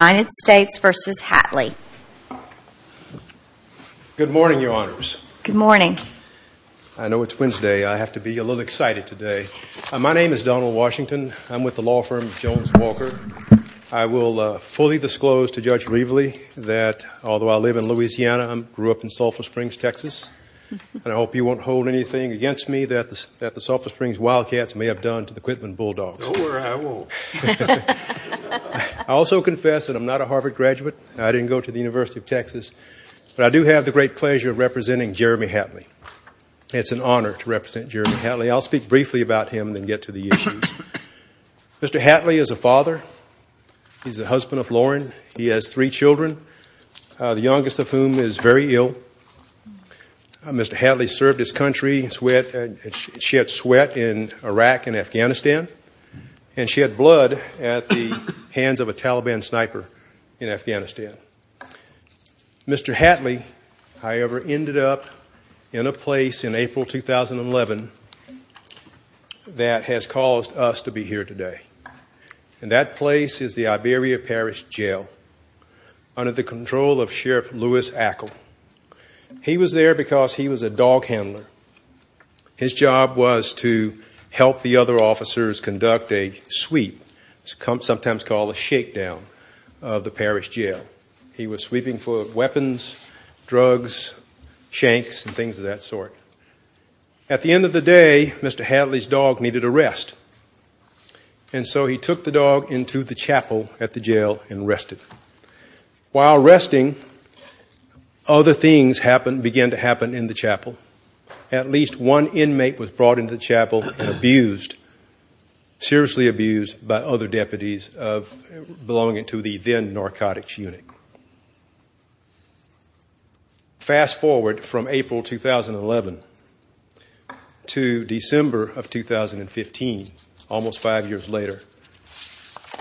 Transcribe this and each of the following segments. United States v. Hatley Good morning, your honors. Good morning. I know it's Wednesday. I have to be a little excited today. My name is Donald Washington. I'm with the law firm Jones-Walker. I will fully disclose to Judge Reveley that, although I live in Louisiana, I grew up in Sulphur Springs, Texas, and I hope you won't hold anything against me that the Sulphur Springs Wildcats may have done to the Quitman Bulldogs. I also confess that I'm not a Harvard graduate. I didn't go to the University of Texas. But I do have the great pleasure of representing Jeremy Hatley. It's an honor to represent Jeremy Hatley. I'll speak briefly about him and then get to the issues. Mr. Hatley is a father. He's the husband of Lauren. He has three children, the youngest of whom is very ill. Mr. Hatley served his country. She had sweat in Iraq and Afghanistan. And she had blood at the hands of a Taliban sniper in Afghanistan. Mr. Hatley, however, ended up in a place in April 2011 that has caused us to be here today. And that place is the Iberia Parish Jail under the control of Sheriff Lewis Ackle. He was there because he was a dog handler. His job was to help the other officers conduct a sweep, sometimes called a shakedown, of the parish jail. He was sweeping for weapons, drugs, shanks, and things of that sort. At the end of the day, Mr. Hatley's dog needed a rest. And so he took the dog into the chapel at the jail and rested. While resting, other things began to happen in the chapel. At least one inmate was brought into the chapel and abused, seriously abused by other deputies belonging to the then narcotics unit. Fast forward from April 2011 to December of 2015, almost five years later.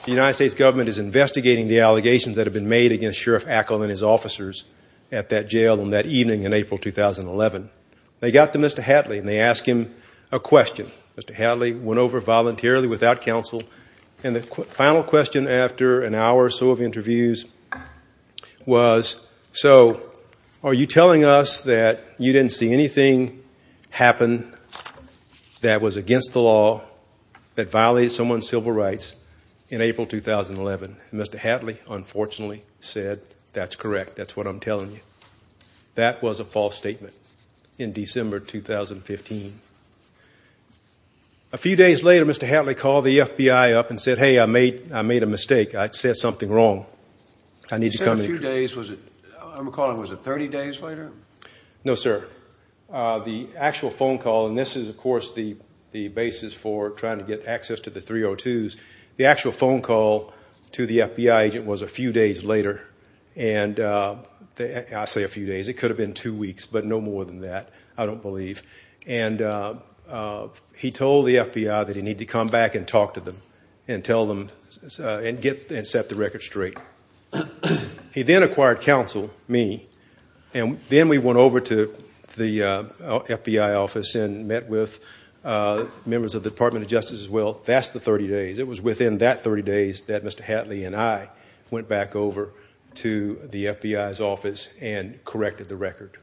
The United States government is investigating the allegations that have been made against Sheriff Ackle and his officers at that jail on that evening in April 2011. They got to Mr. Hatley and they asked him a question. Mr. Hatley went over voluntarily without counsel. And the final question after an hour or so of interviews was, so are you telling us that you didn't see anything happen that was against the law that violated someone's civil rights in April 2011? Mr. Hatley, unfortunately, said, that's correct. That's what I'm telling you. That was a false statement in December 2015. A few days later, Mr. Hatley called the FBI up and said, hey, I made a mistake. I said something wrong. You said a few days. I'm recalling, was it 30 days later? No, sir. The actual phone call, and this is, of course, the basis for trying to get access to the 302s. The actual phone call to the FBI agent was a few days later. I say a few days. It could have been two weeks, but no more than that, I don't believe. And he told the FBI that he needed to come back and talk to them and tell them and set the record straight. He then acquired counsel, me, and then we went over to the FBI office and met with members of the Department of Justice as well. That's the 30 days. It was within that 30 days that Mr. Hatley and I went back over to the FBI's office and corrected the record.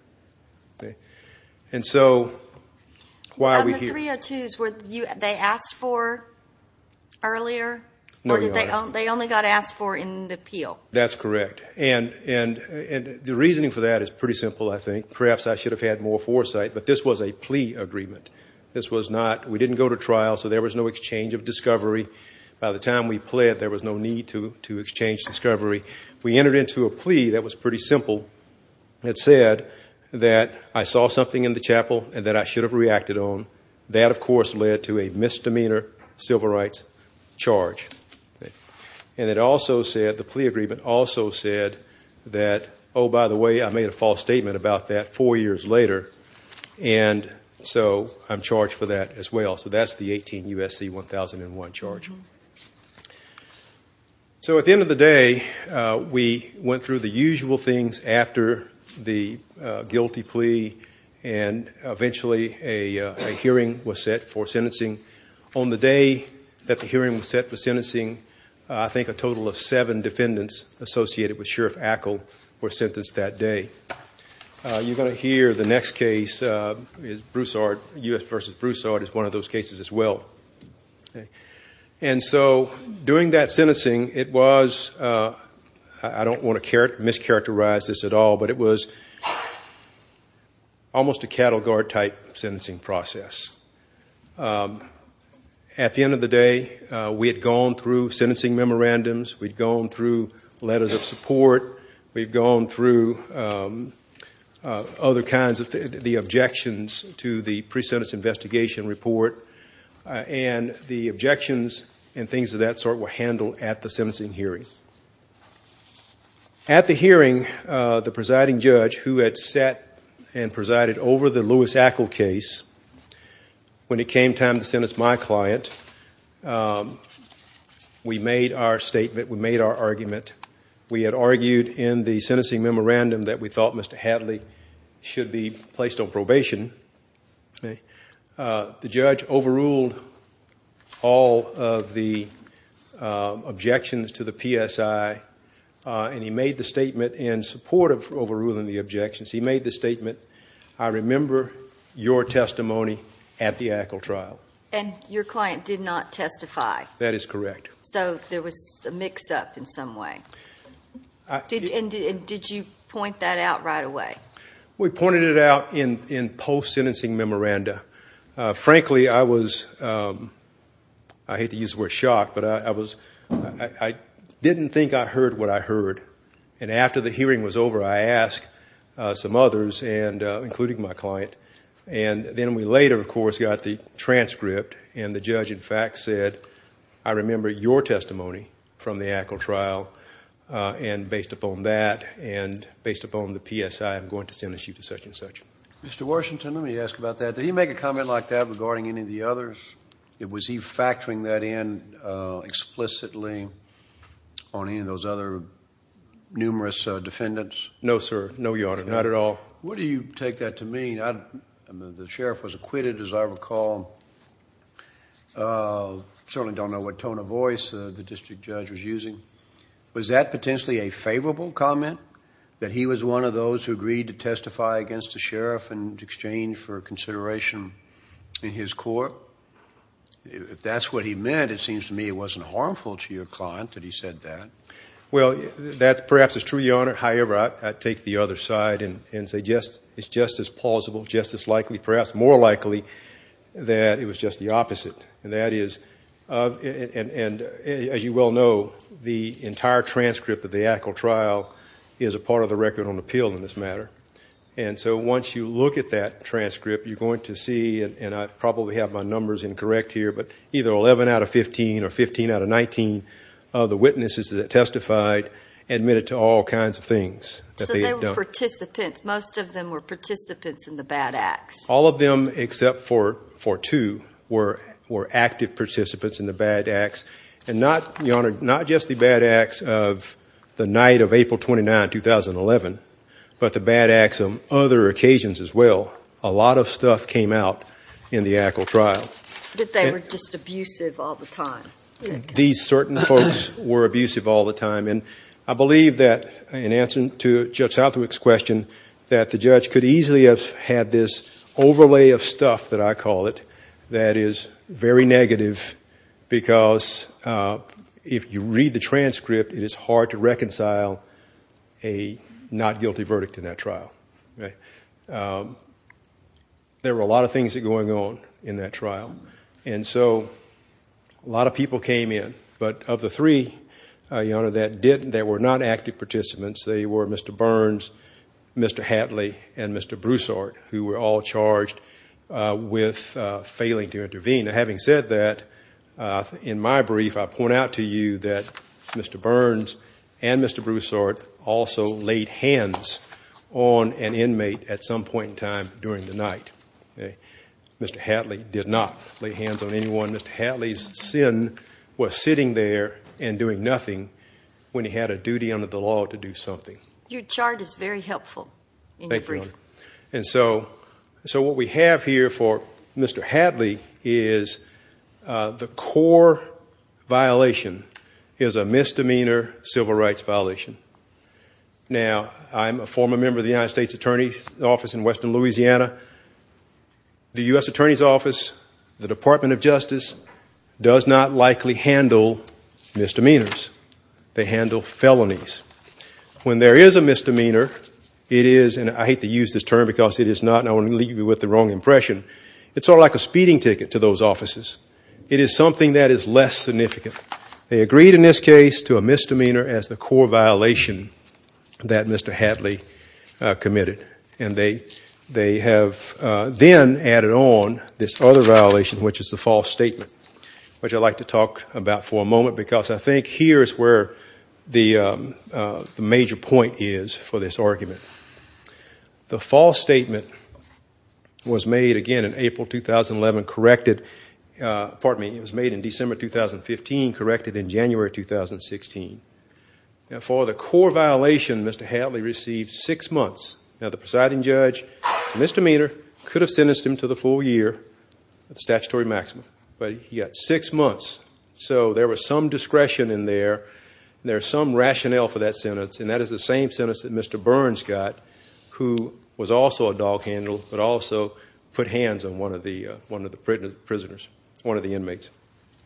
And so why are we here? The 302s, were they asked for earlier, or they only got asked for in the appeal? That's correct, and the reasoning for that is pretty simple, I think. Perhaps I should have had more foresight, but this was a plea agreement. We didn't go to trial, so there was no exchange of discovery. By the time we pled, there was no need to exchange discovery. We entered into a plea that was pretty simple. It said that I saw something in the chapel that I should have reacted on. That, of course, led to a misdemeanor civil rights charge. And it also said, the plea agreement also said that, oh, by the way, I made a false statement about that four years later, and so I'm charged for that as well. So that's the 18 U.S.C. 1001 charge. So at the end of the day, we went through the usual things after the guilty plea, and eventually a hearing was set for sentencing. On the day that the hearing was set for sentencing, I think a total of seven defendants associated with Sheriff Ackle were sentenced that day. You're going to hear the next case, U.S. v. Broussard, is one of those cases as well. And so during that sentencing, it was, I don't want to mischaracterize this at all, but it was almost a cattle guard type sentencing process. At the end of the day, we had gone through sentencing memorandums. We'd gone through letters of support. We'd gone through other kinds of the objections to the pre-sentence investigation report. And the objections and things of that sort were handled at the sentencing hearing. At the hearing, the presiding judge, who had sat and presided over the Lewis-Ackle case, when it came time to sentence my client, we made our statement, we made our argument. We had argued in the sentencing memorandum that we thought Mr. Hadley should be placed on probation. The judge overruled all of the objections to the PSI, and he made the statement in support of overruling the objections, he made the statement, I remember your testimony at the Ackle trial. And your client did not testify. That is correct. So there was a mix-up in some way. And did you point that out right away? We pointed it out in post-sentencing memoranda. Frankly, I was, I hate to use the word shock, but I didn't think I heard what I heard. And after the hearing was over, I asked some others, including my client. And then we later, of course, got the transcript, and the judge, in fact, said, I remember your testimony from the Ackle trial, and based upon that, and based upon the PSI, I'm going to sentence you to such and such. Mr. Washington, let me ask about that. Did he make a comment like that regarding any of the others? Was he factoring that in explicitly on any of those other numerous defendants? No, sir. No, Your Honor, not at all. Where do you take that to mean? The sheriff was acquitted, as I recall. I certainly don't know what tone of voice the district judge was using. Was that potentially a favorable comment, that he was one of those who agreed to testify against the sheriff in exchange for consideration in his court? If that's what he meant, it seems to me it wasn't harmful to your client that he said that. Well, that perhaps is true, Your Honor. However, I'd take the other side and say it's just as plausible, just as likely, perhaps more likely, that it was just the opposite. And that is, as you well know, the entire transcript of the Actical Trial is a part of the Record on Appeal in this matter. And so once you look at that transcript, you're going to see, and I probably have my numbers incorrect here, but either 11 out of 15 or 15 out of 19 of the witnesses that testified admitted to all kinds of things that they had done. So they were participants. Most of them were participants in the bad acts. All of them except for two were active participants in the bad acts. And not, Your Honor, not just the bad acts of the night of April 29, 2011, but the bad acts of other occasions as well. A lot of stuff came out in the Actical Trial. That they were just abusive all the time. These certain folks were abusive all the time. And I believe that, in answer to Judge Southwick's question, that the judge could easily have had this overlay of stuff, that I call it, that is very negative because if you read the transcript, it is hard to reconcile a not guilty verdict in that trial. There were a lot of things going on in that trial. And so a lot of people came in. But of the three, Your Honor, that were not active participants, they were Mr. Burns, Mr. Hatley, and Mr. Broussard, who were all charged with failing to intervene. Having said that, in my brief, I point out to you that Mr. Burns and Mr. Broussard also laid hands on an inmate at some point in time during the night. Mr. Hatley did not lay hands on anyone. Mr. Hatley's sin was sitting there and doing nothing when he had a duty under the law to do something. Your chart is very helpful in your brief. Thank you, Your Honor. And so what we have here for Mr. Hatley is the core violation is a misdemeanor civil rights violation. Now, I'm a former member of the United States Attorney's Office in western Louisiana. The U.S. Attorney's Office, the Department of Justice, does not likely handle misdemeanors. They handle felonies. When there is a misdemeanor, it is, and I hate to use this term because it is not, and I don't want to leave you with the wrong impression, it's sort of like a speeding ticket to those offices. It is something that is less significant. They agreed in this case to a misdemeanor as the core violation that Mr. Hatley committed. And they have then added on this other violation, which is the false statement, which I'd like to talk about for a moment, because I think here is where the major point is for this argument. The false statement was made again in April 2011, corrected, pardon me, it was made in December 2015, corrected in January 2016. Now, for the core violation, Mr. Hatley received six months. Now, the presiding judge, misdemeanor, could have sentenced him to the full year of statutory maximum, but he got six months. So there was some discretion in there and there was some rationale for that sentence, and that is the same sentence that Mr. Burns got, who was also a dog handler but also put hands on one of the prisoners, one of the inmates.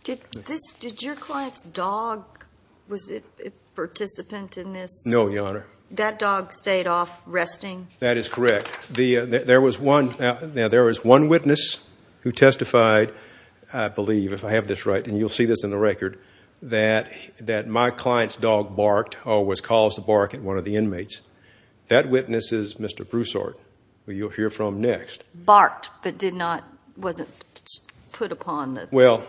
Did your client's dog, was it a participant in this? No, Your Honor. That dog stayed off resting? That is correct. Now, there was one witness who testified, I believe, if I have this right, and you'll see this in the record, that my client's dog barked or was caused to bark at one of the inmates. That witness is Mr. Broussard, who you'll hear from next. Barked but did not, wasn't put upon the? Well,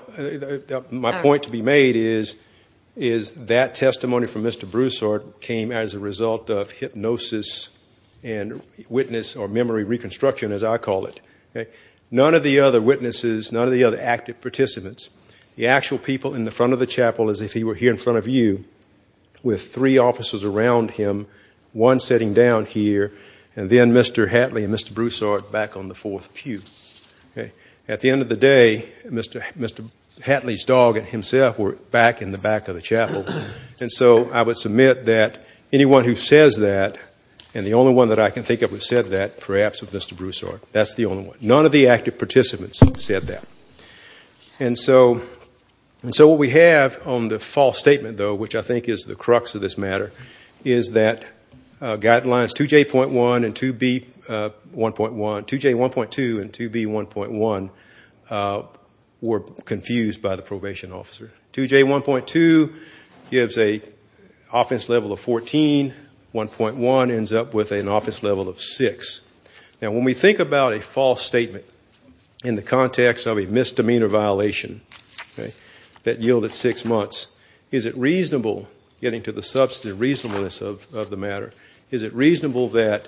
my point to be made is that testimony from Mr. Broussard came as a result of hypnosis and witness or memory reconstruction, as I call it. None of the other witnesses, none of the other active participants, the actual people in the front of the chapel, as if he were here in front of you, with three officers around him, one sitting down here, and then Mr. Hatley and Mr. Broussard back on the fourth pew. At the end of the day, Mr. Hatley's dog and himself were back in the back of the chapel, and so I would submit that anyone who says that, and the only one that I can think of who said that, perhaps of Mr. Broussard, that's the only one. None of the active participants said that. And so what we have on the false statement, though, which I think is the crux of this matter, is that Guidelines 2J.1 and 2B.1.1, 2J.1.2 and 2B.1.1 were confused by the probation officer. 2J.1.2 gives an offense level of 14, 1.1 ends up with an offense level of 6. Now, when we think about a false statement in the context of a misdemeanor violation that yielded six months, is it reasonable, getting to the substantive reasonableness of the matter, is it reasonable that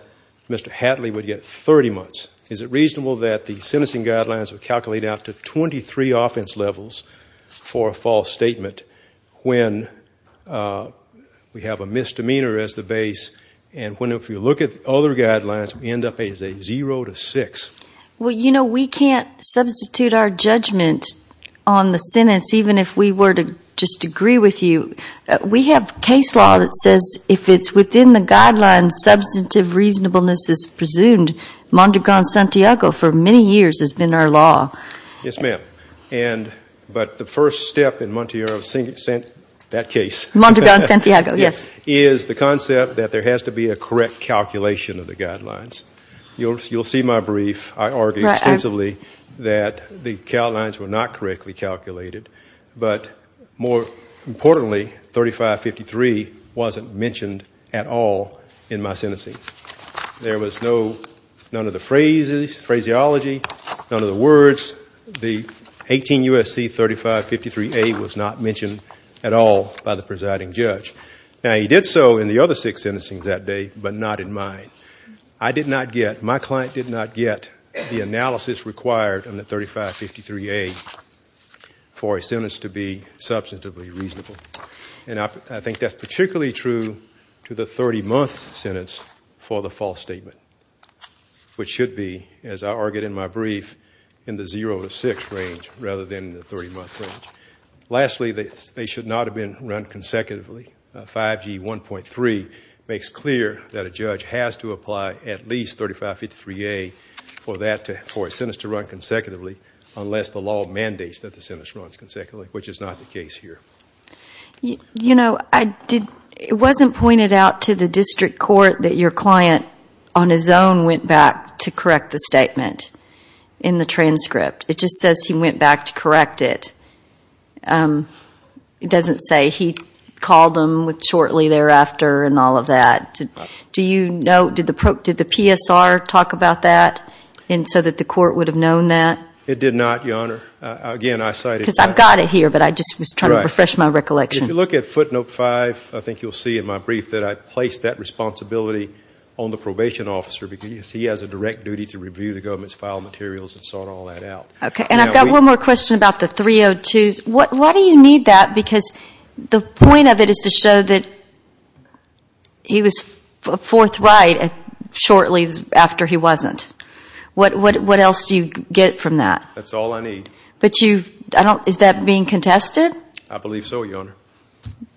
Mr. Hatley would get 30 months? Is it reasonable that the sentencing guidelines would calculate out to 23 offense levels for a false statement when we have a misdemeanor as the base and when, if you look at other guidelines, we end up as a 0 to 6? Well, you know, we can't substitute our judgment on the sentence even if we were to just agree with you. We have case law that says if it's within the guidelines, substantive reasonableness is presumed. Montegon-Santiago for many years has been our law. Yes, ma'am. But the first step in Montegon-Santiago is the concept that there has to be a correct calculation of the guidelines. You'll see my brief. I argue extensively that the guidelines were not correctly calculated. But more importantly, 3553 wasn't mentioned at all in my sentencing. There was none of the phraseology, none of the words. The 18 U.S.C. 3553A was not mentioned at all by the presiding judge. Now, he did so in the other six sentencings that day, but not in mine. I did not get, my client did not get the analysis required in the 3553A for a sentence to be substantively reasonable. And I think that's particularly true to the 30-month sentence for the false statement, which should be, as I argued in my brief, in the 0 to 6 range rather than the 30-month range. Lastly, they should not have been run consecutively. 5G 1.3 makes clear that a judge has to apply at least 3553A for a sentence to run consecutively unless the law mandates that the sentence runs consecutively, which is not the case here. You know, it wasn't pointed out to the district court that your client, on his own, went back to correct the statement in the transcript. It just says he went back to correct it. It doesn't say he called them shortly thereafter and all of that. Do you know, did the PSR talk about that so that the court would have known that? It did not, Your Honor. Because I've got it here, but I just was trying to refresh my recollection. If you look at footnote 5, I think you'll see in my brief that I placed that responsibility on the probation officer because he has a direct duty to review the government's file materials and sort all that out. Okay, and I've got one more question about the 302s. Why do you need that? Because the point of it is to show that he was forthright shortly after he wasn't. What else do you get from that? That's all I need. But you, I don't, is that being contested? I believe so, Your Honor.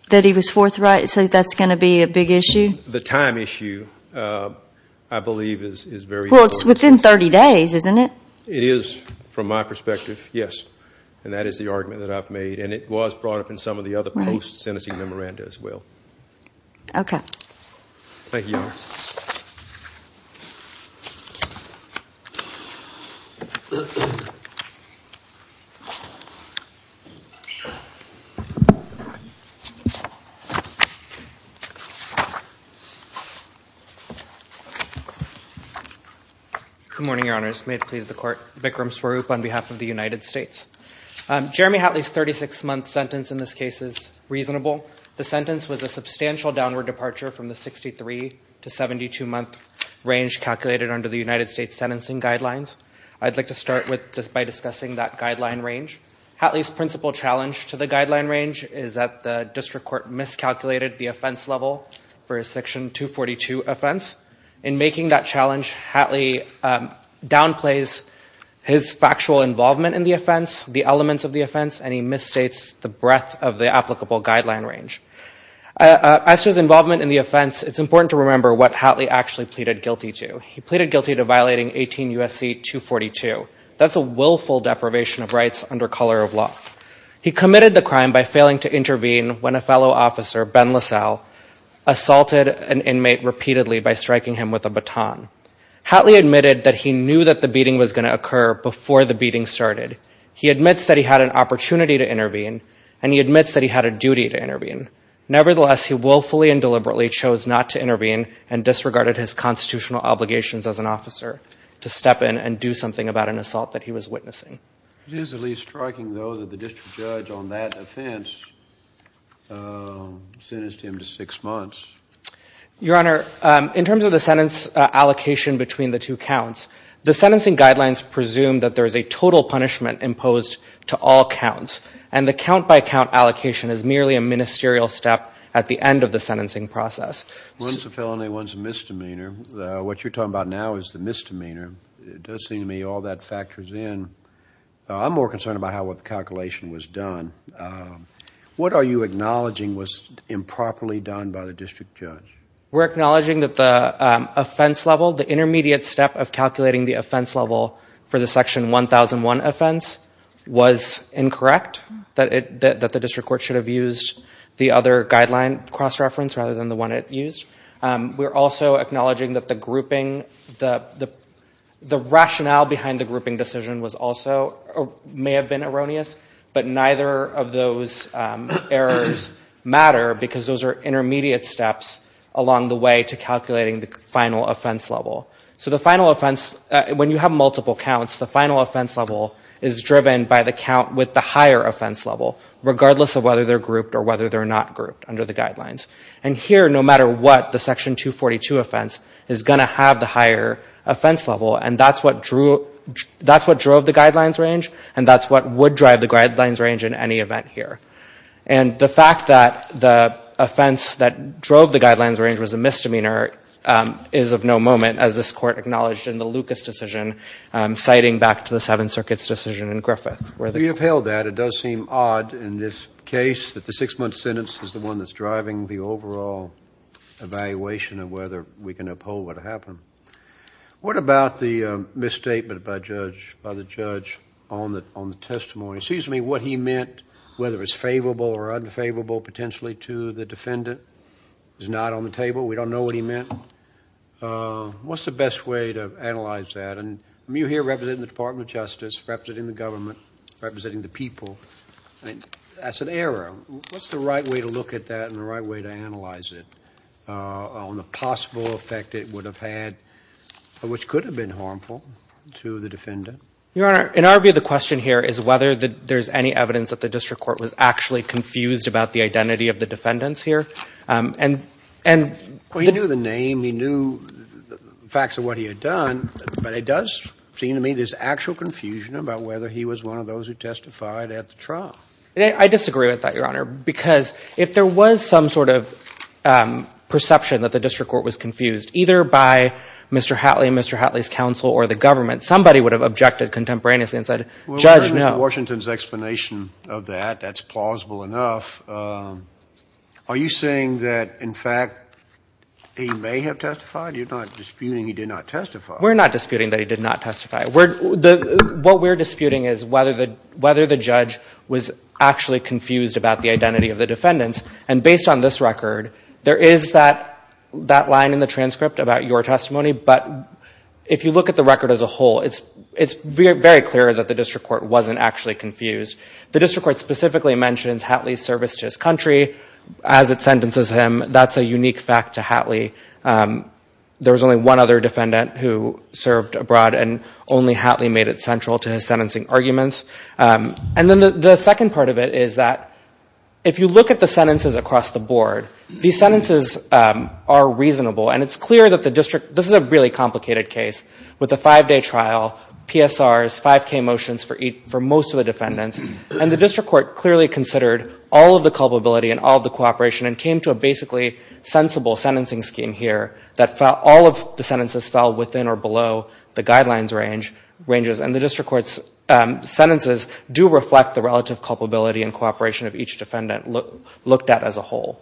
That he was forthright, so that's going to be a big issue? The time issue, I believe, is very important. Well, it's within 30 days, isn't it? It is from my perspective, yes, and that is the argument that I've made, and it was brought up in some of the other posts in the memoranda as well. Thank you, Your Honor. Good morning, Your Honors. May it please the Court. Vikram Swaroop on behalf of the United States. Jeremy Hatley's 36-month sentence in this case is reasonable. The sentence was a substantial downward departure from the 63- to 72-month range calculated under the United States sentencing guidelines. I'd like to start by discussing that guideline range. Hatley's principal challenge to the guideline range is that the district court miscalculated the offense level for his Section 242 offense. In making that challenge, Hatley downplays his factual involvement in the offense, the elements of the offense, and he misstates the breadth of the applicable guideline range. As to his involvement in the offense, it's important to remember what Hatley actually pleaded guilty to. He pleaded guilty to violating 18 U.S.C. 242. That's a willful deprivation of rights under color of law. He committed the crime by failing to intervene when a fellow officer, Ben LaSalle, assaulted an inmate repeatedly by striking him with a baton. Hatley admitted that he knew that the beating was going to occur before the beating started. He admits that he had an opportunity to intervene, and he admits that he had a duty to intervene. Nevertheless, he willfully and deliberately chose not to intervene and disregarded his constitutional obligations as an officer to step in and do something about an assault that he was witnessing. It is at least striking, though, that the district judge on that offense sentenced him to six months. Your Honor, in terms of the sentence allocation between the two counts, the sentencing guidelines presume that there is a total punishment imposed to all counts, and the count-by-count allocation is merely a ministerial step at the end of the sentencing process. One's a felony, one's a misdemeanor. What you're talking about now is the misdemeanor. It does seem to me all that factors in. I'm more concerned about how the calculation was done. What are you acknowledging was improperly done by the district judge? We're acknowledging that the offense level, the intermediate step of calculating the offense level for the Section 1001 offense, was incorrect, that the district court should have used the other guideline cross-reference rather than the one it used. We're also acknowledging that the rationale behind the grouping decision may have been erroneous, but neither of those errors matter because those are intermediate steps along the way to calculating the final offense level. So the final offense, when you have multiple counts, the final offense level is driven by the count with the higher offense level, regardless of whether they're grouped or whether they're not grouped under the guidelines. And here, no matter what, the Section 242 offense is going to have the higher offense level, and that's what drove the guidelines range, and that's what would drive the guidelines range in any event here. And the fact that the offense that drove the guidelines range was a misdemeanor is of no moment, as this Court acknowledged in the Lucas decision, citing back to the Seventh Circuit's decision in Griffith. You upheld that. It does seem odd in this case that the six-month sentence is the one that's driving the overall evaluation of whether we can uphold what happened. What about the misstatement by the judge on the testimony? Excuse me, what he meant, whether it's favorable or unfavorable potentially to the defendant, is not on the table. We don't know what he meant. What's the best way to analyze that? And you're here representing the Department of Justice, representing the government, representing the people. That's an error. What's the right way to look at that and the right way to analyze it on the possible effect it would have had, which could have been harmful to the defendant? Your Honor, in our view, the question here is whether there's any evidence that the district court was actually confused about the identity of the defendants here. And the — Well, he knew the name. He knew the facts of what he had done. But it does seem to me there's actual confusion about whether he was one of those who testified at the trial. I disagree with that, Your Honor, because if there was some sort of perception that the district court was confused, either by Mr. Hatley and Mr. Hatley's counsel or the government, somebody would have objected contemporaneously and said, Judge, no. Well, we heard Mr. Washington's explanation of that. That's plausible enough. Are you saying that, in fact, he may have testified? You're not disputing he did not testify. We're not disputing that he did not testify. What we're disputing is whether the judge was actually confused about the identity of the defendants. And based on this record, there is that line in the transcript about your testimony. But if you look at the record as a whole, it's very clear that the district court wasn't actually confused. The district court specifically mentions Hatley's service to his country as it sentences him. That's a unique fact to Hatley. There was only one other defendant who served abroad, and only Hatley made it central to his sentencing arguments. And then the second part of it is that if you look at the sentences across the board, these sentences are reasonable, and it's clear that the district, this is a really complicated case, with a five-day trial, PSRs, 5K motions for most of the defendants, and the district court clearly considered all of the culpability and all of the cooperation and came to a basically sensible sentencing scheme here that all of the sentences fell within or below the guidelines ranges. And the district court's sentences do reflect the relative culpability and cooperation of each defendant looked at as a whole.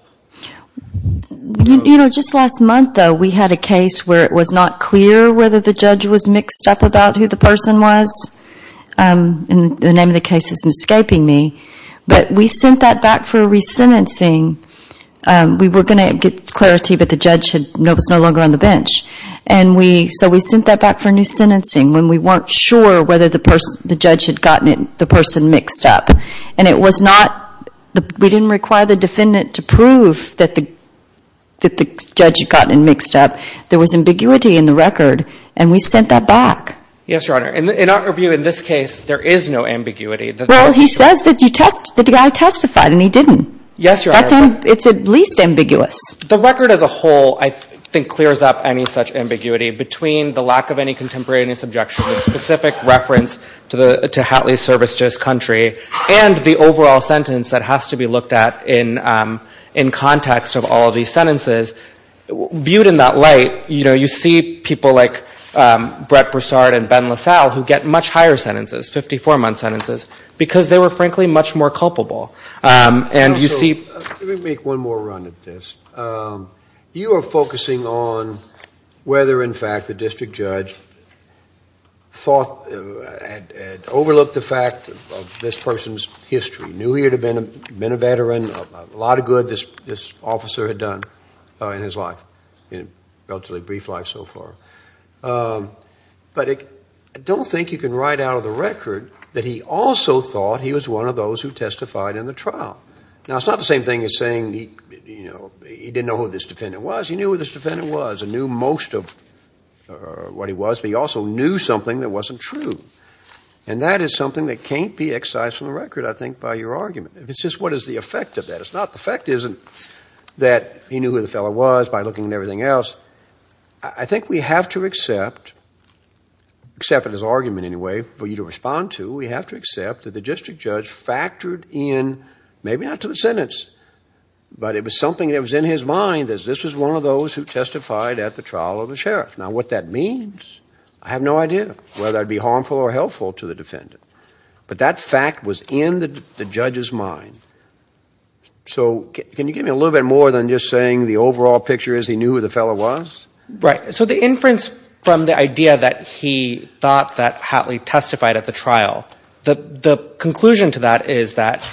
You know, just last month, though, we had a case where it was not clear whether the judge was mixed up about who the person was. And the name of the case is escaping me. But we sent that back for a re-sentencing. We were going to get clarity, but the judge was no longer on the bench. So we sent that back for a new sentencing when we weren't sure whether the judge had gotten the person mixed up. And we didn't require the defendant to prove that the judge had gotten him mixed up. There was ambiguity in the record, and we sent that back. Yes, Your Honor. In our view, in this case, there is no ambiguity. Well, he says that the guy testified, and he didn't. Yes, Your Honor. It's at least ambiguous. The record as a whole, I think, clears up any such ambiguity between the lack of any contemporaneous objection, the specific reference to Hatley's service to his country, and the overall sentence that has to be looked at in context of all these sentences. Viewed in that light, you know, you see people like Brett Broussard and Ben LaSalle who get much higher sentences, 54-month sentences, because they were, frankly, much more culpable. Let me make one more run at this. You are focusing on whether, in fact, the district judge had overlooked the fact of this person's history, knew he had been a veteran, a lot of good this officer had done in his life, in a relatively brief life so far. But I don't think you can write out of the record that he also thought he was one of those who testified in the trial. Now, it's not the same thing as saying, you know, he didn't know who this defendant was. He knew who this defendant was and knew most of what he was, but he also knew something that wasn't true. And that is something that can't be excised from the record, I think, by your argument. It's just what is the effect of that. It's not the fact that he knew who the fellow was by looking at everything else. I think we have to accept, except in his argument anyway, for you to respond to, we have to accept that the district judge factored in, maybe not to the sentence, but it was something that was in his mind that this was one of those who testified at the trial of the sheriff. Now, what that means, I have no idea whether that would be harmful or helpful to the defendant. But that fact was in the judge's mind. So can you give me a little bit more than just saying the overall picture is he knew who the fellow was? Right. So the inference from the idea that he thought that Hatley testified at the trial, the conclusion to that is that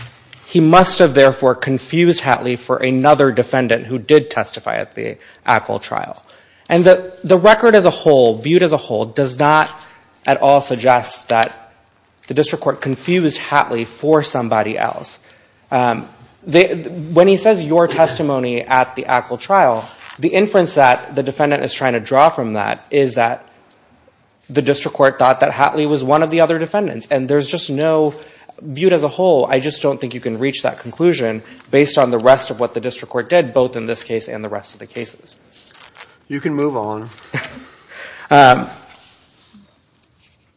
he must have, therefore, confused Hatley for another defendant who did testify at the ACL trial. And the record as a whole, viewed as a whole, does not at all suggest that the district court confused Hatley for somebody else. When he says your testimony at the ACL trial, the inference that the defendant is trying to draw from that is that the district court thought that Hatley was one of the other defendants. And there's just no, viewed as a whole, I just don't think you can reach that conclusion based on the rest of what the district court did, both in this case and the rest of the cases. You can move on.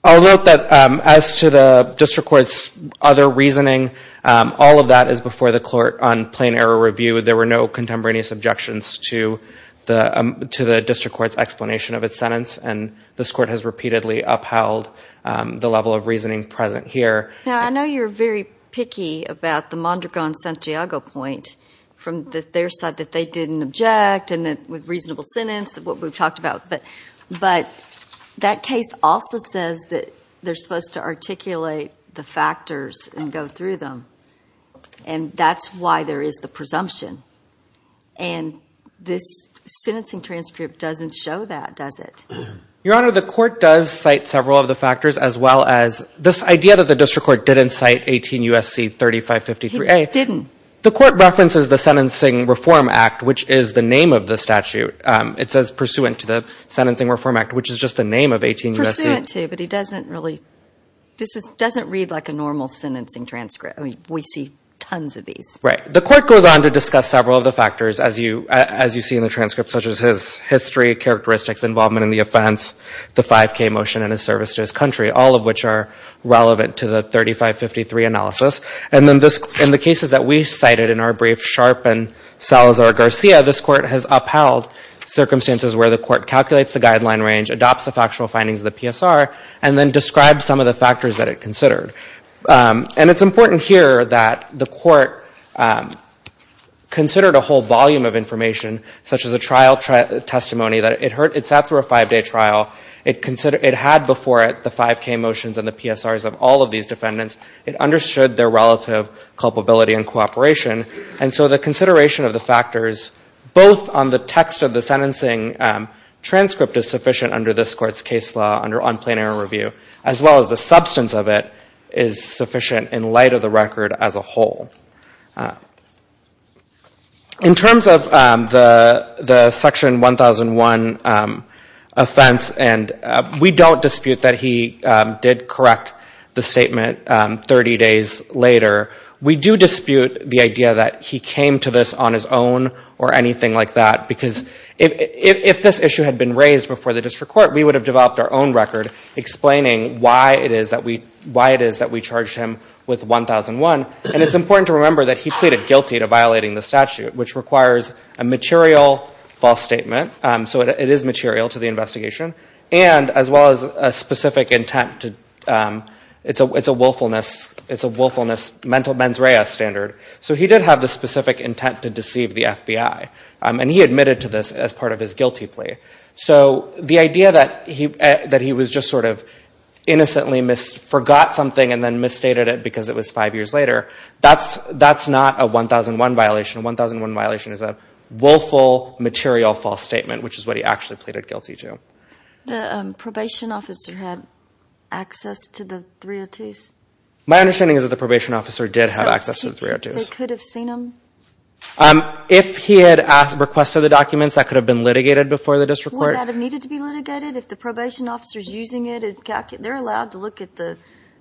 I'll note that as to the district court's other reasoning, all of that is before the court on plain error review. There were no contemporaneous objections to the district court's explanation of its sentence, and this court has repeatedly upheld the level of reasoning present here. Now, I know you're very picky about the Mondragon-Santiago point, from their side that they didn't object, and with reasonable sentence, what we've talked about. But that case also says that they're supposed to articulate the factors and go through them. And that's why there is the presumption. And this sentencing transcript doesn't show that, does it? Your Honor, the court does cite several of the factors, as well as this idea that the district court didn't cite 18 U.S.C. 3553A. The court references the Sentencing Reform Act, which is the name of the statute. It says pursuant to the Sentencing Reform Act, which is just the name of 18 U.S.C. Pursuant to, but he doesn't really, this doesn't read like a normal sentencing transcript. I mean, we see tons of these. Right. The court goes on to discuss several of the factors, as you see in the transcript, such as his history, characteristics, involvement in the offense, the 5K motion, and his service to his country, all of which are relevant to the 3553 analysis. And then in the cases that we cited in our brief, Sharp and Salazar-Garcia, this court has upheld circumstances where the court calculates the guideline range, adopts the factual findings of the PSR, and then describes some of the factors that it considered. And it's important here that the court considered a whole volume of information, such as a trial testimony that it sat through a five-day trial. It had before it the 5K motions and the PSRs of all of these defendants. It understood their relative culpability and cooperation. And so the consideration of the factors, both on the text of the sentencing transcript, is sufficient under this Court's case law, under unplanar review, as well as the substance of it is sufficient in light of the record as a whole. In terms of the Section 1001 offense, and we don't dispute that he did correct the statement 30 days later. We do dispute the idea that he came to this on his own or anything like that, because if this issue had been raised before the district court, we would have developed our own record explaining why it is that we charged him with 1001. And it's important to remember that he pleaded guilty to violating the statute, which requires a material false statement. So it is material to the investigation. And as well as a specific intent to, it's a willfulness, mental mens rea standard. So he did have the specific intent to deceive the FBI. And he admitted to this as part of his guilty plea. So the idea that he was just sort of innocently forgot something and then misstated it because it was five years later, that's not a 1001 violation. A 1001 violation is a willful material false statement, which is what he actually pleaded guilty to. The probation officer had access to the 302s? My understanding is that the probation officer did have access to the 302s. They could have seen them? If he had requested the documents, that could have been litigated before the district court. Wouldn't that have needed to be litigated if the probation officer is using it? They're allowed to look at the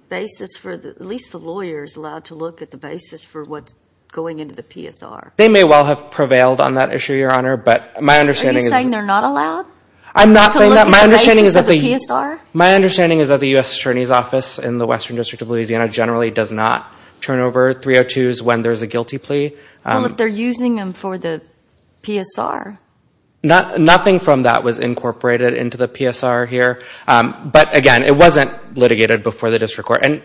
basis for, at least the lawyer is allowed to look at the basis for what's going into the PSR. They may well have prevailed on that issue, Your Honor. Are you saying they're not allowed to look at the basis of the PSR? My understanding is that the U.S. Attorney's Office in the Western District of Louisiana generally does not turn over 302s when there's a guilty plea. Well, if they're using them for the PSR. Nothing from that was incorporated into the PSR here. But again, it wasn't litigated before the district court. And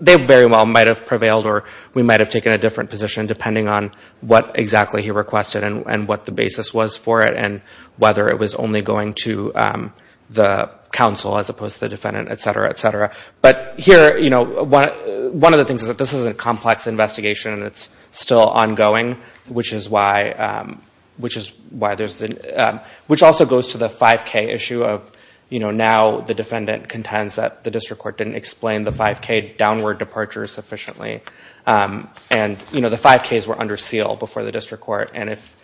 they very well might have prevailed or we might have taken a different position, depending on what exactly he requested and what the basis was for it, and whether it was only going to the counsel as opposed to the defendant, et cetera, et cetera. But here, you know, one of the things is that this is a complex investigation and it's still ongoing, which is why there's the, which also goes to the 5K issue of, you know, how the defendant contends that the district court didn't explain the 5K downward departure sufficiently. And, you know, the 5Ks were under seal before the district court. And if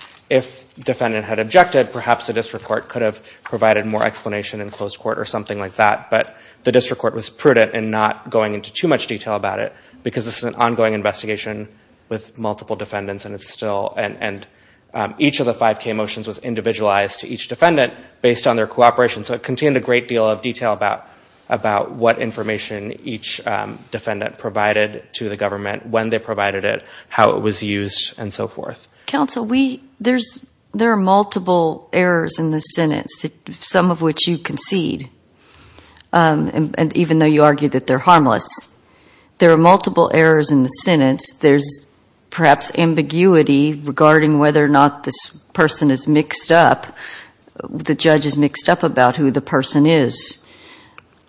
the defendant had objected, perhaps the district court could have provided more explanation in closed court or something like that. But the district court was prudent in not going into too much detail about it, because this is an ongoing investigation with multiple defendants and it's still, and each of the 5K motions was individualized to each defendant based on their cooperation. So it contained a great deal of detail about what information each defendant provided to the government, when they provided it, how it was used, and so forth. Counsel, there are multiple errors in the sentence, some of which you concede, even though you argue that they're harmless. There are multiple errors in the sentence. There's perhaps ambiguity regarding whether or not this person is mixed up, the judge is mixed up about who the person is.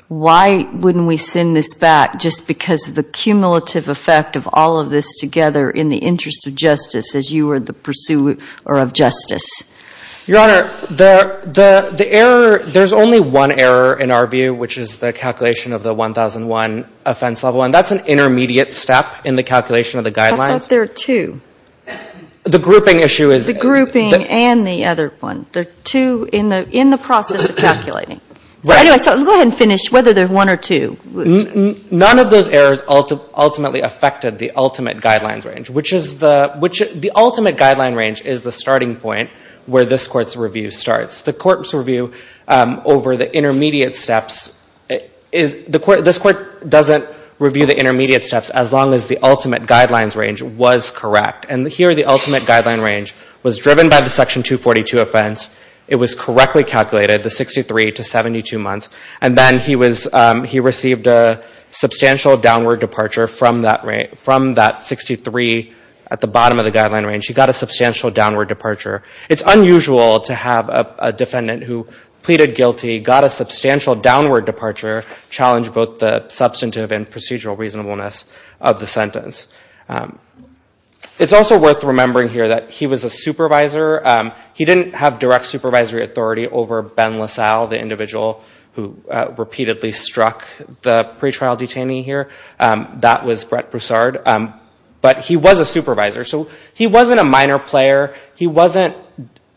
Why wouldn't we send this back just because of the cumulative effect of all of this together in the interest of justice, as you were the pursuer of justice? Your Honor, the error, there's only one error in our view, which is the calculation of the 1001 offense level. And that's an intermediate step in the calculation of the guidelines. I thought there were two. The grouping issue is. There are two in the process of calculating. So go ahead and finish whether there's one or two. None of those errors ultimately affected the ultimate guidelines range, which is the ultimate guideline range is the starting point where this Court's review starts. The Court's review over the intermediate steps, this Court doesn't review the intermediate steps as long as the ultimate guidelines range was correct. And here the ultimate guideline range was driven by the Section 242 offense. It was correctly calculated, the 63 to 72 months. And then he received a substantial downward departure from that 63 at the bottom of the guideline range. He got a substantial downward departure. It's unusual to have a defendant who pleaded guilty, got a substantial downward departure, challenge both the substantive and procedural reasonableness of the sentence. It's also worth remembering here that he was a supervisor. He didn't have direct supervisory authority over Ben LaSalle, the individual who repeatedly struck the pretrial detainee here. That was Brett Broussard. But he was a supervisor. So he wasn't a minor player. He wasn't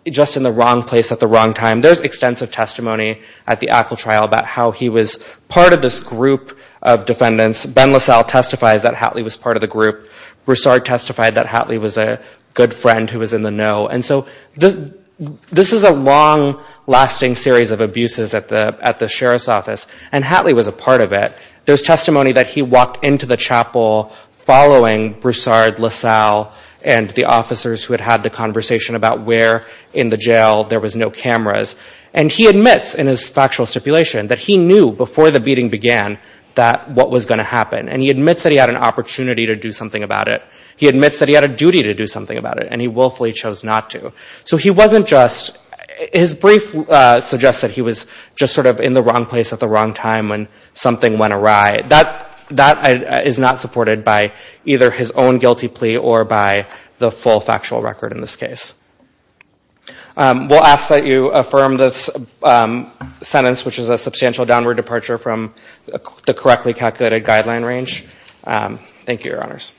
just in the wrong place at the wrong time. There's extensive testimony at the Apple trial about how he was part of this group of defendants. Ben LaSalle testifies that Hatley was part of the group. Broussard testified that Hatley was a good friend who was in the know. And so this is a long-lasting series of abuses at the sheriff's office, and Hatley was a part of it. There's testimony that he walked into the chapel following Broussard, LaSalle, and the officers who had had the conversation about where in the jail there was no cameras. And he admits in his factual stipulation that he knew before the beating began that what was going to happen. And he admits that he had an opportunity to do something about it. He admits that he had a duty to do something about it, and he willfully chose not to. So his brief suggests that he was just sort of in the wrong place at the wrong time when something went awry. That is not supported by either his own guilty plea or by the full factual record in this case. We'll ask that you affirm this sentence, which is a substantial downward departure from the correctly calculated guideline range. Thank you, Your Honors.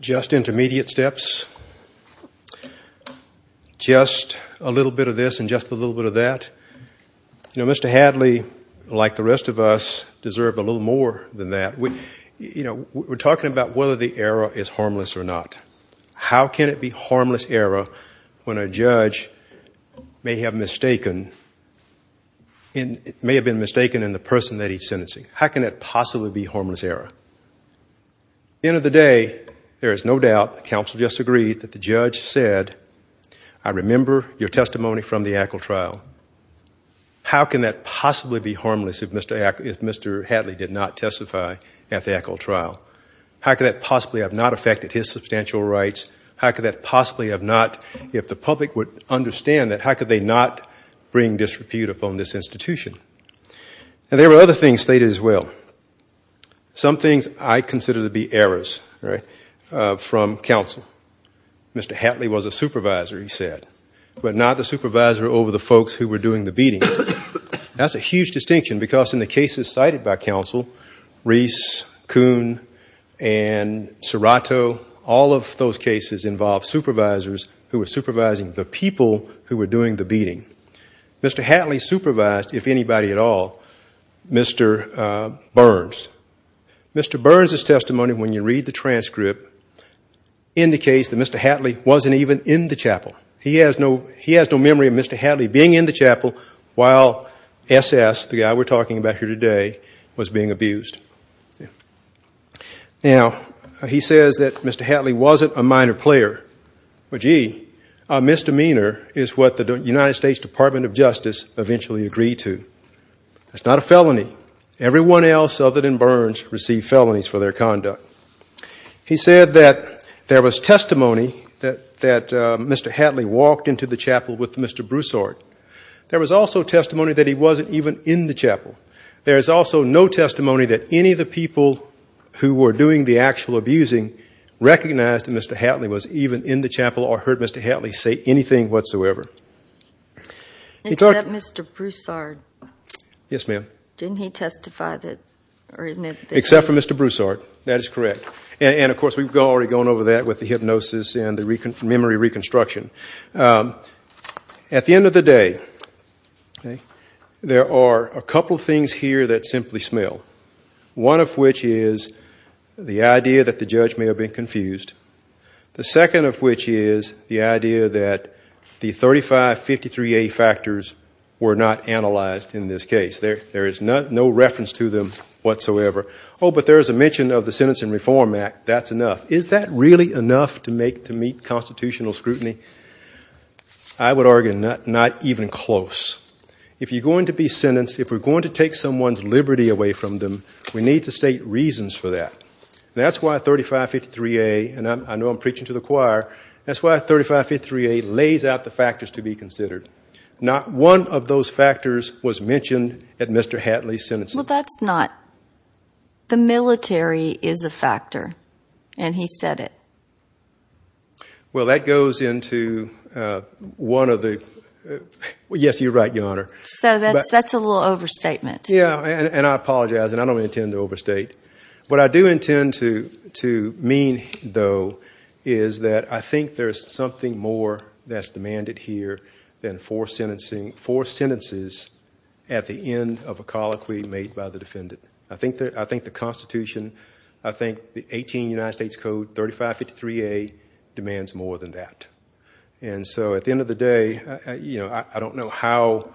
Just intermediate steps. Just a little bit of this and just a little bit of that. You know, Mr. Hatley, like the rest of us, deserved a little more than that. You know, we're talking about whether the error is harmless or not. How can it be harmless error when a judge may have mistaken in the person that he's sentencing? How can that possibly be harmless error? At the end of the day, there is no doubt, the counsel just agreed, that the judge said, I remember your testimony from the Ackle trial. How can that possibly be harmless if Mr. Hatley did not testify at the Ackle trial? How could that possibly have not affected his substantial rights? How could that possibly have not, if the public would understand that, how could they not bring disrepute upon this institution? And there were other things stated as well. Some things I consider to be errors from counsel. Mr. Hatley was a supervisor, he said, but not the supervisor over the folks who were doing the beating. That's a huge distinction, because in the cases cited by counsel, Reese, Coon, and Serrato, all of those cases involved supervisors who were supervising the people who were doing the beating. Mr. Hatley supervised, if anybody at all, Mr. Burns. Mr. Burns' testimony, when you read the transcript, indicates that Mr. Hatley wasn't even in the chapel. He has no memory of Mr. Hatley being in the chapel while S.S., the guy we're talking about here today, was being abused. Now, he says that Mr. Hatley wasn't a minor player. Well, gee, a misdemeanor is what the United States Department of Justice eventually agreed to. It's not a felony. Everyone else other than Burns received felonies for their conduct. He said that there was testimony that Mr. Hatley walked into the chapel with Mr. Broussard. There was also testimony that he wasn't even in the chapel. There is also no testimony that any of the people who were doing the actual abusing recognized that Mr. Hatley was even in the chapel or heard Mr. Hatley say anything whatsoever. Except Mr. Broussard. Yes, ma'am. Didn't he testify that, or isn't that the truth? Except for Mr. Broussard, that is correct. And, of course, we've already gone over that with the hypnosis and the memory reconstruction. At the end of the day, there are a couple things here that simply smell. One of which is the idea that the judge may have been confused. The second of which is the idea that the 3553A factors were not analyzed in this case. There is no reference to them whatsoever. Oh, but there is a mention of the Sentencing Reform Act, that's enough. Is that really enough to meet constitutional scrutiny? I would argue not even close. If you're going to be sentenced, if we're going to take someone's liberty away from them, we need to state reasons for that. And that's why 3553A, and I know I'm preaching to the choir, that's why 3553A lays out the factors to be considered. Not one of those factors was mentioned at Mr. Hatley's sentencing. Well, that's not, the military is a factor, and he said it. Well, that goes into one of the, yes, you're right, Your Honor. So that's a little overstatement. Yeah, and I apologize, and I don't intend to overstate. What I do intend to mean, though, is that I think there's something more that's demanded here than four sentences at the end of a colloquy made by the defendant. I think the Constitution, I think the 18 United States Code 3553A demands more than that. And so at the end of the day, I don't know how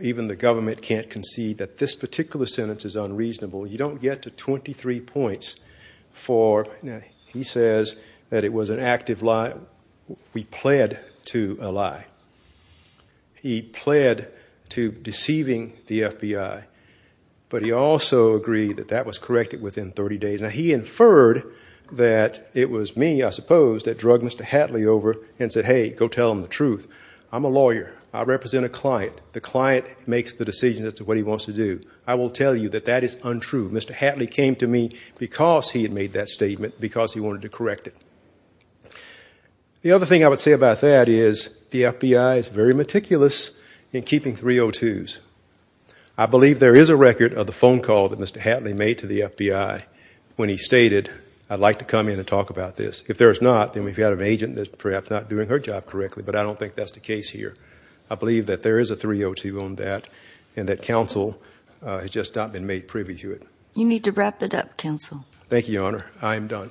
even the government can't concede that this particular sentence is unreasonable. You don't get to 23 points for, now, he says that it was an active lie. We pled to a lie. He pled to deceiving the FBI, but he also agreed that that was corrected within 30 days. Now, he inferred that it was me, I suppose, that drug Mr. Hatley over and said, hey, go tell him the truth. The client makes the decision as to what he wants to do. I will tell you that that is untrue. Mr. Hatley came to me because he had made that statement, because he wanted to correct it. The other thing I would say about that is the FBI is very meticulous in keeping 302s. I believe there is a record of the phone call that Mr. Hatley made to the FBI when he stated, I'd like to come in and talk about this. If there is not, then we've got an agent that's perhaps not doing her job correctly, but I don't think that's the case here. I believe that there is a 302 on that and that counsel has just not been made privy to it. You need to wrap it up, counsel. Thank you, Your Honor. I am done.